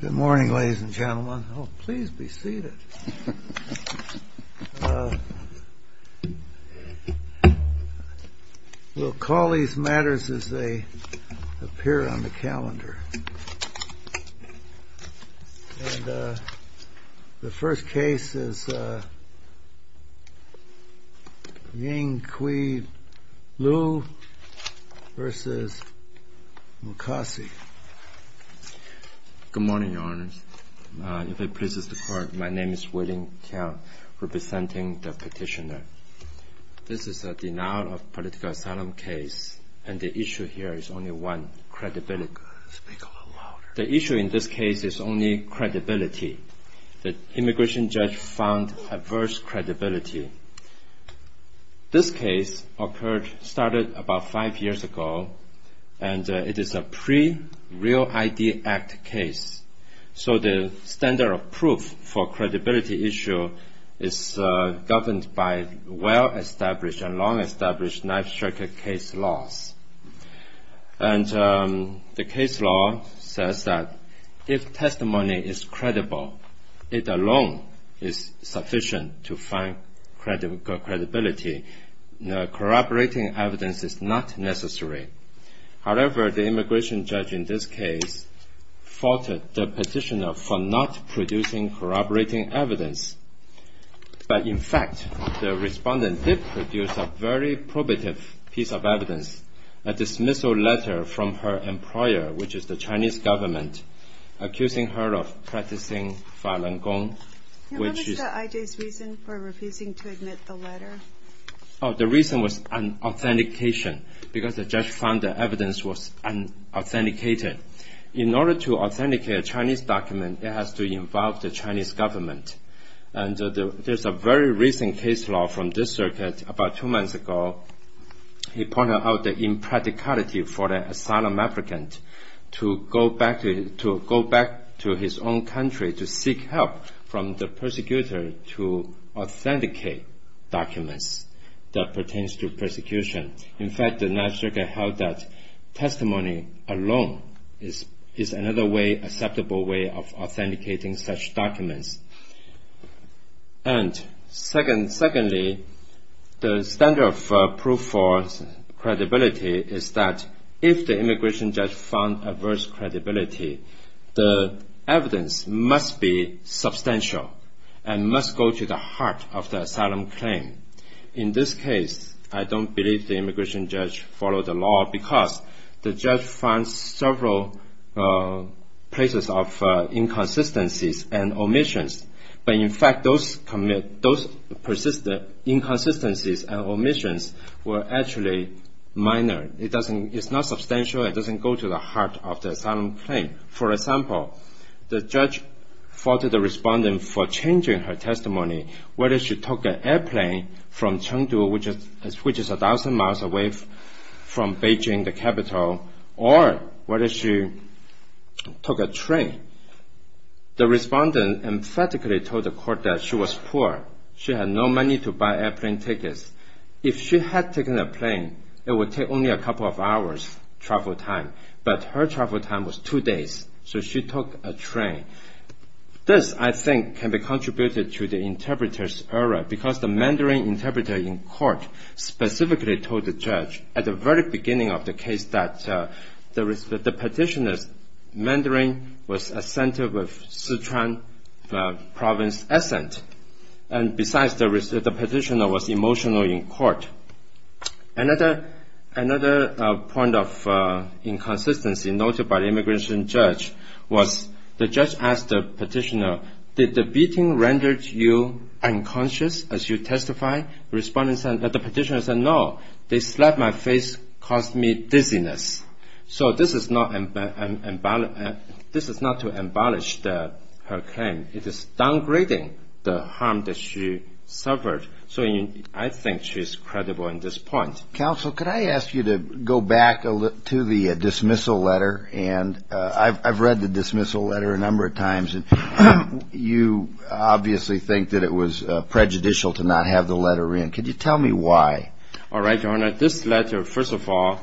Good morning, ladies and gentlemen. Oh, please be seated. We'll call these matters as they appear on the calendar. And the first case is Ying-Kui Liu v. Mukasey. Good morning, Your Honors. If it pleases the Court, my name is Wei-Ling Keo, representing the petitioner. This is a denial of political asylum case, and the issue here is only one, credibility. Speak a little louder. The issue in this case is only credibility. The immigration judge found adverse credibility. This case started about five years ago, and it is a pre-Real ID Act case. So the standard of proof for credibility issue is governed by well-established and long-established knife-sharp case laws. And the case law says that if testimony is credible, it alone is sufficient to find credibility. Corroborating evidence is not necessary. However, the immigration judge in this case faulted the petitioner for not producing corroborating evidence. But in fact, the respondent did produce a very probative piece of evidence, a dismissal letter from her employer, which is the Chinese government, accusing her of practicing violent gong, which is... What was the IJ's reason for refusing to admit the letter? The reason was an authentication, because the judge found the evidence was unauthenticated. In order to authenticate a Chinese document, it has to involve the Chinese government. And there's a very recent case law from this circuit about two months ago. He pointed out the impracticality for the asylum applicant to go back to his own country to seek help from the persecutor to authenticate documents that pertains to persecution. In fact, the National Circuit held that testimony alone is another acceptable way of authenticating such documents. And secondly, the standard of proof for credibility is that if the immigration judge found adverse credibility, the evidence must be substantial and must go to the heart of the asylum claim. In this case, I don't believe the immigration judge followed the law, because the judge found several places of inconsistencies and omissions. But in fact, those persistent inconsistencies and omissions were actually minor. It's not substantial. It doesn't go to the heart of the asylum claim. For example, the judge faulted the respondent for changing her testimony whether she took an airplane from Chengdu, which is a thousand miles away from Beijing, the capital, or whether she took a train. The respondent emphatically told the court that she was poor. She had no money to buy airplane tickets. If she had taken a plane, it would take only a couple of hours travel time. But her travel time was two days, so she took a train. This, I think, can be contributed to the interpreter's error, because the Mandarin interpreter in court specifically told the judge at the very beginning of the case that the petitioner's Mandarin was a center of Sichuan province accent. Besides, the petitioner was emotional in court. Another point of inconsistency noted by the immigration judge was the judge asked the petitioner, did the beating render you unconscious as you testified? The petitioner said, no, they slapped my face, caused me dizziness. So this is not to embellish her claim. It is downgrading the harm that she suffered. So I think she's credible in this point. Counsel, could I ask you to go back to the dismissal letter? And I've read the dismissal letter a number of times, and you obviously think that it was prejudicial to not have the letter in. Could you tell me why? All right, Your Honor. This letter, first of all,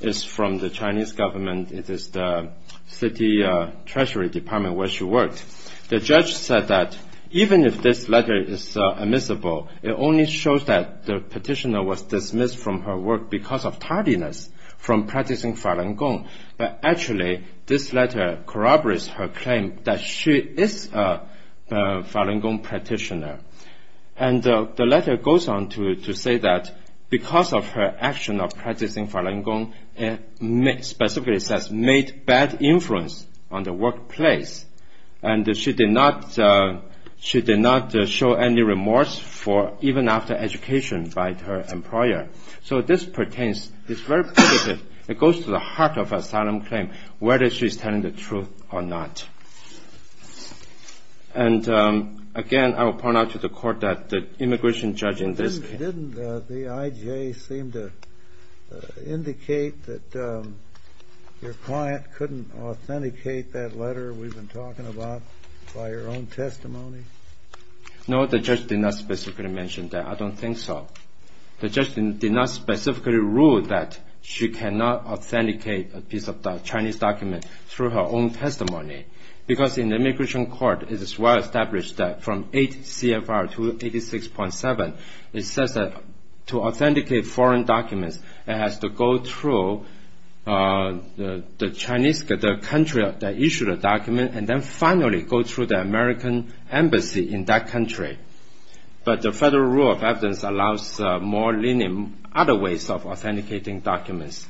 is from the Chinese government. It is the city treasury department where she worked. The judge said that even if this letter is admissible, it only shows that the petitioner was dismissed from her work because of tardiness from practicing Falun Gong. But actually, this letter corroborates her claim that she is a Falun Gong practitioner. And the letter goes on to say that because of her action of practicing Falun Gong, it specifically says, made bad influence on the workplace. And she did not show any remorse even after education by her employer. So this pertains, it's very positive. It goes to the heart of asylum claim, whether she's telling the truth or not. And again, I will point out to the court that the immigration judge in this case. Didn't the IJ seem to indicate that your client couldn't authenticate that letter we've been talking about by her own testimony? No, the judge did not specifically mention that. I don't think so. The judge did not specifically rule that she cannot authenticate a piece of Chinese document through her own testimony. Because in the immigration court, it is well established that from 8 CFR 286.7, it says that to authenticate foreign documents, it has to go through the country that issued the document, and then finally go through the American embassy in that country. But the federal rule of evidence allows more lenient other ways of authenticating documents,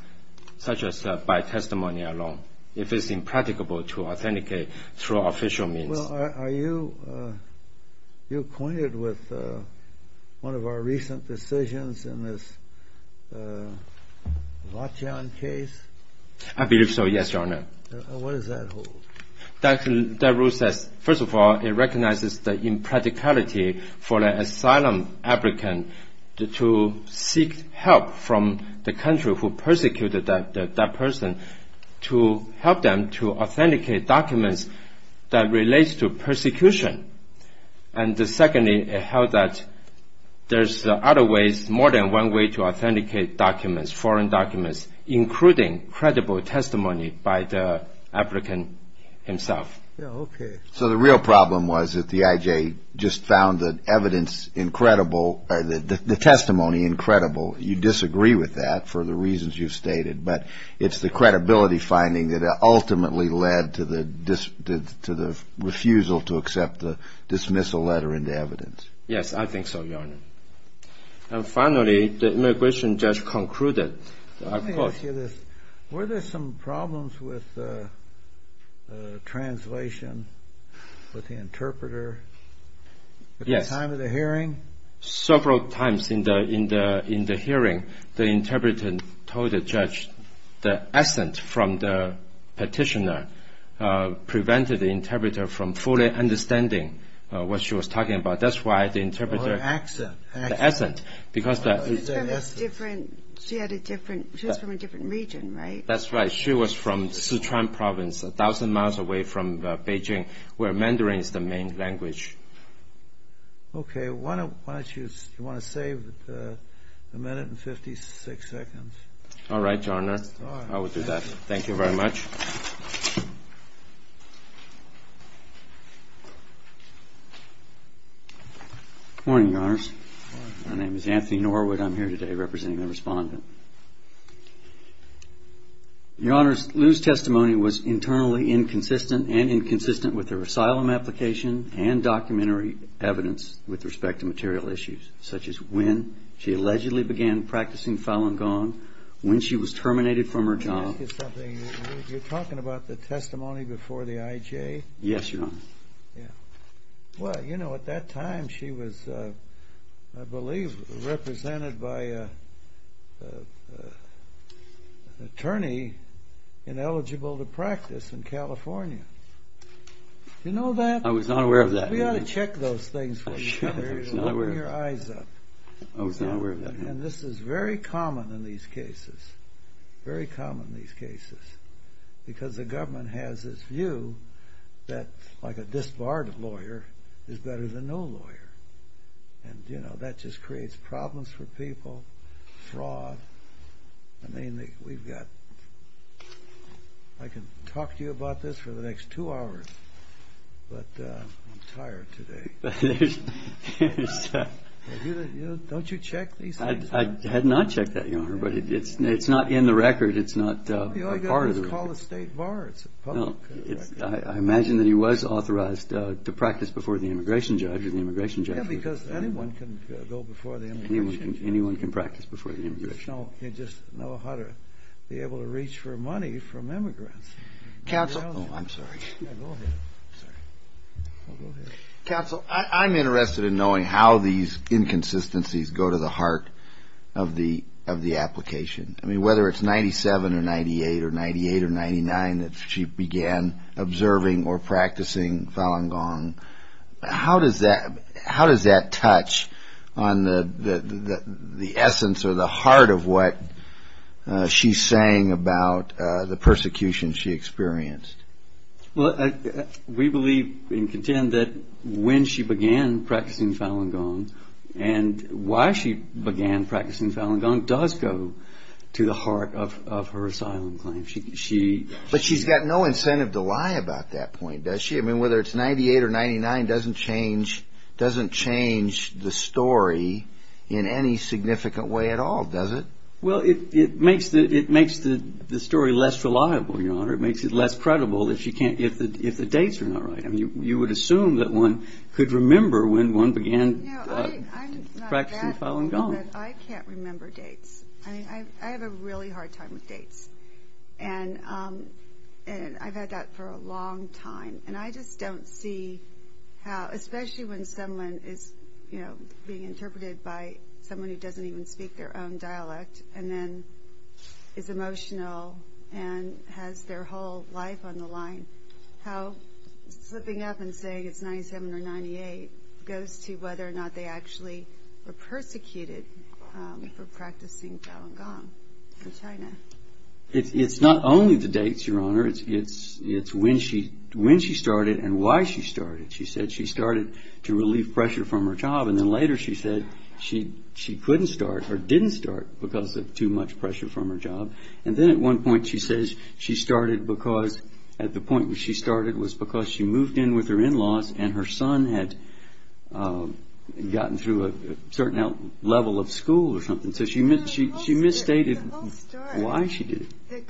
such as by testimony alone. If it's impracticable to authenticate through official means. Well, are you acquainted with one of our recent decisions in this Vatian case? I believe so, yes, Your Honor. What does that hold? That rule says, first of all, it recognizes the impracticality for an asylum applicant to seek help from the country who persecuted that person to help them to authenticate documents that relates to persecution. And secondly, it held that there's other ways, more than one way to authenticate documents, foreign documents, including credible testimony by the applicant himself. Okay. So the real problem was that the IJ just found the evidence incredible, the testimony incredible. You disagree with that for the reasons you've stated, but it's the credibility finding that ultimately led to the refusal to accept, dismiss a letter into evidence. Yes, I think so, Your Honor. And finally, the immigration judge concluded. Let me ask you this. Were there some problems with translation, with the interpreter at the time of the hearing? Several times in the hearing, the interpreter told the judge the accent from the petitioner prevented the interpreter from fully understanding what she was talking about. That's why the interpreter – Or accent. The accent. Because the – She had a different – she was from a different region, right? That's right. She was from Sichuan province, a thousand miles away from Beijing, where Mandarin is the main language. Okay. Why don't you – do you want to save a minute and 56 seconds? All right, Your Honor. All right. I will do that. Thank you very much. Good morning, Your Honors. Good morning. My name is Anthony Norwood. I'm here today representing the respondent. Your Honors, Lu's testimony was internally inconsistent and inconsistent with her asylum application and documentary evidence with respect to material issues, such as when she allegedly began practicing Falun Gong, when she was terminated from her job. Let me ask you something. You're talking about the testimony before the IJ? Yes, Your Honor. Well, you know, at that time she was, I believe, represented by an attorney ineligible to practice in California. Do you know that? I was not aware of that. We ought to check those things for you. I was not aware of that. Keep your eyes up. I was not aware of that. And this is very common in these cases, very common in these cases, because the government has this view that like a disbarred lawyer is better than no lawyer. And, you know, that just creates problems for people, fraud. I mean, we've got – I can talk to you about this for the next two hours, but I'm tired today. Don't you check these things? I had not checked that, Your Honor, but it's not in the record. It's not a part of the record. All you've got to do is call the state bar. It's a public record. No, I imagine that he was authorized to practice before the immigration judge or the immigration judge. Yeah, because anyone can go before the immigration judge. Anyone can practice before the immigration judge. You just know how to be able to reach for money from immigrants. Counsel. Oh, I'm sorry. Yeah, go ahead. I'm sorry. Go ahead. Counsel, I'm interested in knowing how these inconsistencies go to the heart of the application. I mean, whether it's 97 or 98 or 98 or 99 that she began observing or practicing Falun Gong, how does that touch on the essence or the heart of what she's saying about the persecution she experienced? Well, we believe and contend that when she began practicing Falun Gong and why she began practicing Falun Gong does go to the heart of her asylum claim. But she's got no incentive to lie about that point, does she? I mean, whether it's 98 or 99 doesn't change the story in any significant way at all, does it? Well, it makes the story less reliable, Your Honor. It makes it less credible if the dates are not right. I mean, you would assume that one could remember when one began practicing Falun Gong. I can't remember dates. I have a really hard time with dates, and I've had that for a long time. And I just don't see how, especially when someone is, you know, being interpreted by someone who doesn't even speak their own dialect and then is emotional and has their whole life on the line, how slipping up and saying it's 97 or 98 goes to whether or not they actually were persecuted for practicing Falun Gong in China. It's not only the dates, Your Honor. It's when she started and why she started. She said she started to relieve pressure from her job, and then later she said she couldn't start or didn't start because of too much pressure from her job. And then at one point she says she started because, at the point where she started was because she moved in with her in-laws and her son had gotten through a certain level of school or something. The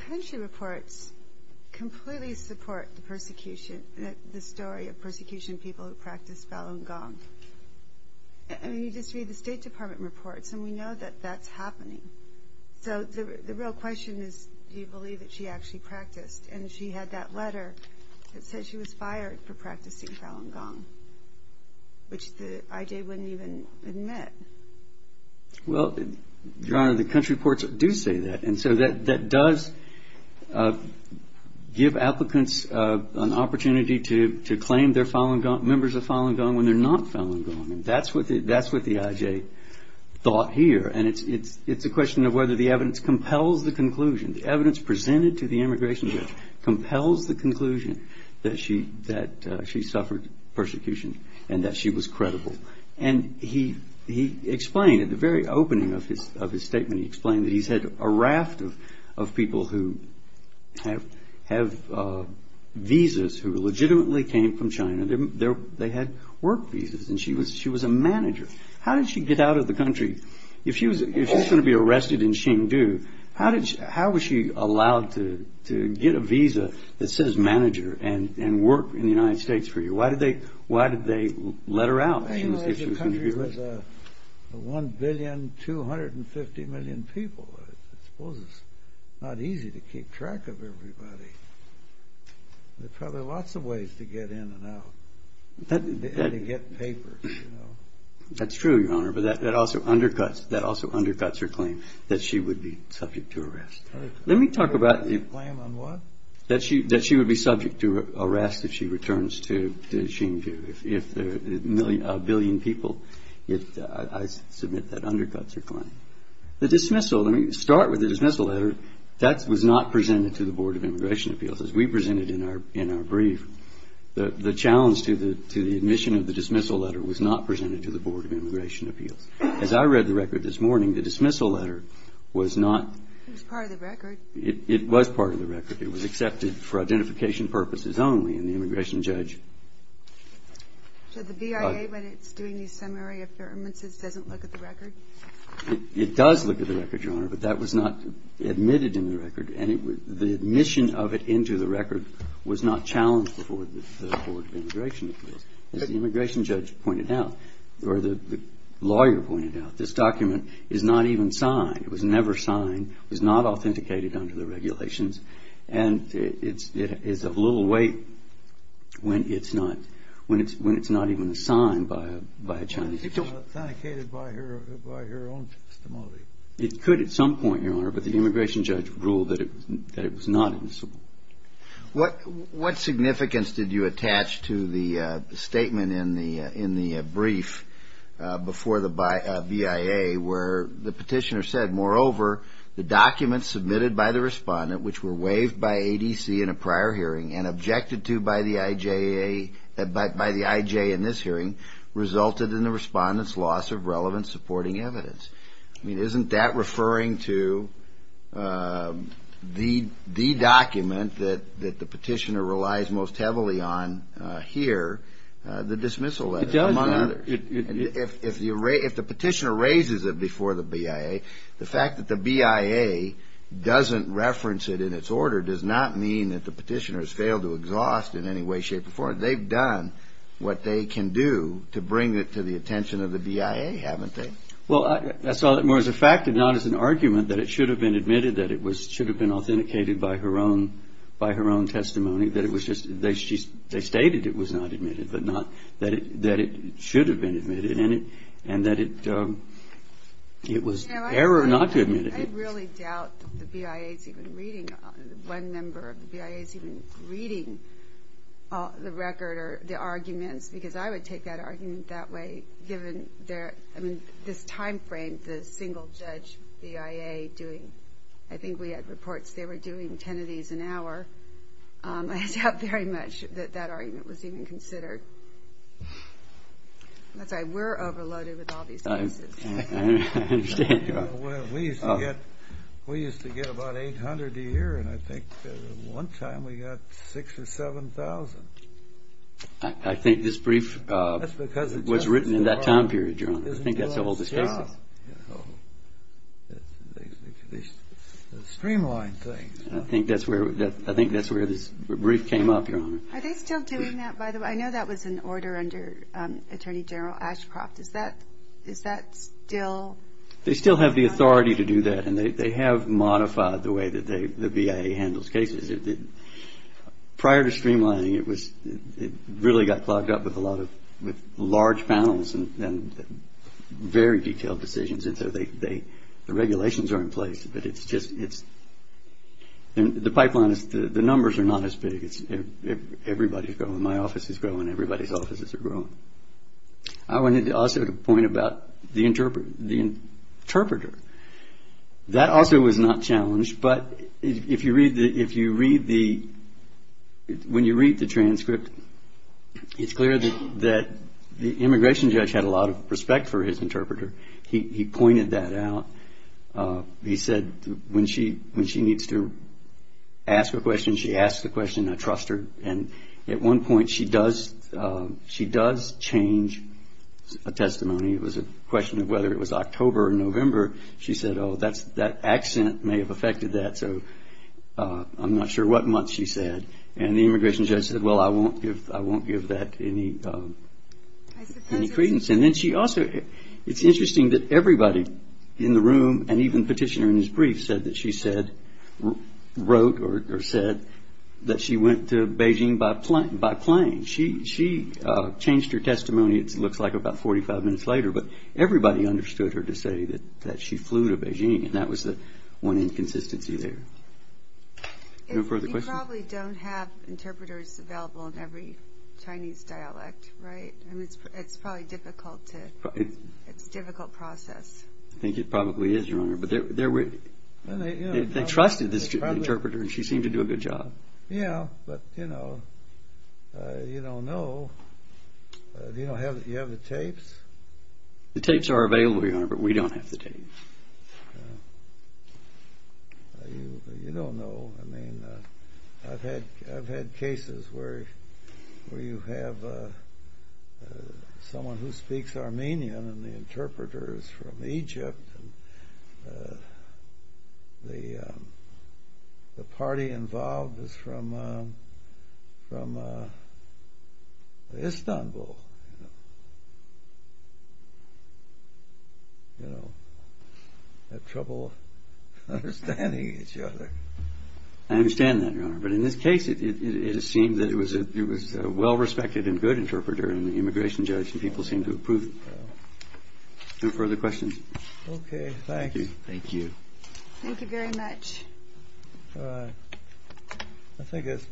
country reports completely support the story of persecution of people who practice Falun Gong. I mean, you just read the State Department reports, and we know that that's happening. So the real question is, do you believe that she actually practiced? And she had that letter that said she was fired for practicing Falun Gong, which the IJ wouldn't even admit. Well, Your Honor, the country reports do say that. And so that does give applicants an opportunity to claim they're members of Falun Gong when they're not Falun Gong. And that's what the IJ thought here. And it's a question of whether the evidence compels the conclusion. The evidence presented to the immigration judge compels the conclusion that she suffered persecution and that she was credible. And he explained at the very opening of his statement, he explained that he's had a raft of people who have visas who legitimately came from China. They had work visas, and she was a manager. How did she get out of the country? If she was going to be arrested in Hsinchu, how was she allowed to get a visa that says manager and work in the United States for you? Why did they let her out if she was going to be arrested? The country was 1,250,000,000 people. I suppose it's not easy to keep track of everybody. There are probably lots of ways to get in and out and to get papers. That's true, Your Honor, but that also undercuts her claim that she would be subject to arrest. Her claim on what? That she would be subject to arrest if she returns to Hsinchu, if a billion people. I submit that undercuts her claim. The dismissal, let me start with the dismissal letter. That was not presented to the Board of Immigration Appeals as we presented in our brief. The challenge to the admission of the dismissal letter was not presented to the Board of Immigration Appeals. As I read the record this morning, the dismissal letter was not. It was part of the record. It was accepted for identification purposes only, and the immigration judge. So the BIA, when it's doing these summary affirmances, doesn't look at the record? It does look at the record, Your Honor, but that was not admitted in the record, and the admission of it into the record was not challenged before the Board of Immigration Appeals. As the immigration judge pointed out, or the lawyer pointed out, this document is not even signed. It was never signed. It was not authenticated under the regulations, and it's of little weight when it's not even assigned by a Chinese judge. It's not authenticated by her own testimony. It could at some point, Your Honor, but the immigration judge ruled that it was not admissible. What significance did you attach to the statement in the brief before the BIA where the petitioner said, moreover, the documents submitted by the respondent, which were waived by ADC in a prior hearing and objected to by the IJ in this hearing, resulted in the respondent's loss of relevant supporting evidence? I mean, isn't that referring to the document that the petitioner relies most heavily on here, the dismissal letter, among others? It does. If the petitioner raises it before the BIA, the fact that the BIA doesn't reference it in its order does not mean that the petitioner has failed to exhaust in any way, shape, or form. They've done what they can do to bring it to the attention of the BIA, haven't they? Well, I saw it more as a fact and not as an argument that it should have been admitted, that it should have been authenticated by her own testimony. They stated it was not admitted, but not that it should have been admitted, and that it was error not to admit it. I really doubt that the BIA is even reading, one member of the BIA is even reading the record or the arguments because I would take that argument that way given this time frame the single judge BIA doing. I think we had reports they were doing 10 of these an hour. I doubt very much that that argument was even considered. That's right, we're overloaded with all these cases. We used to get about 800 a year, and I think one time we got 6,000 or 7,000. I think this brief was written in that time period, Your Honor. I think that's the oldest case. I think that's where this brief came up, Your Honor. Are they still doing that, by the way? I know that was an order under Attorney General Ashcroft. Is that still? They still have the authority to do that, and they have modified the way that the BIA handles cases. Prior to streamlining, it really got clogged up with a lot of large panels and very detailed decisions, and so the regulations are in place, but the numbers are not as big. Everybody's going, my office is going, everybody's offices are going. I wanted also to point about the interpreter. That also was not challenged, but when you read the transcript, it's clear that the immigration judge had a lot of respect for his interpreter. He pointed that out. He said when she needs to ask a question, she asks a question. I trust her, and at one point she does change a testimony. It was a question of whether it was October or November. She said, oh, that accent may have affected that, so I'm not sure what month she said. And the immigration judge said, well, I won't give that any credence. And then she also, it's interesting that everybody in the room and even the petitioner in his brief said that she said, wrote or said that she went to Beijing by plane. She changed her testimony, it looks like, about 45 minutes later, but everybody understood her to say that she flew to Beijing, and that was one inconsistency there. No further questions? You probably don't have interpreters available in every Chinese dialect, right? It's probably difficult to, it's a difficult process. I think it probably is, Your Honor, but they trusted the interpreter, and she seemed to do a good job. Yeah, but, you know, you don't know. Do you have the tapes? The tapes are available, Your Honor, but we don't have the tapes. You don't know, I mean, I've had cases where you have someone who speaks Armenian and the interpreter is from Egypt, and the party involved is from Istanbul, you know. They have trouble understanding each other. I understand that, Your Honor, but in this case, it seemed that it was a well-respected and good interpreter, and the immigration judge and people seemed to approve. No further questions? Okay, thanks. Thank you. Thank you very much. All right. I think that's about it.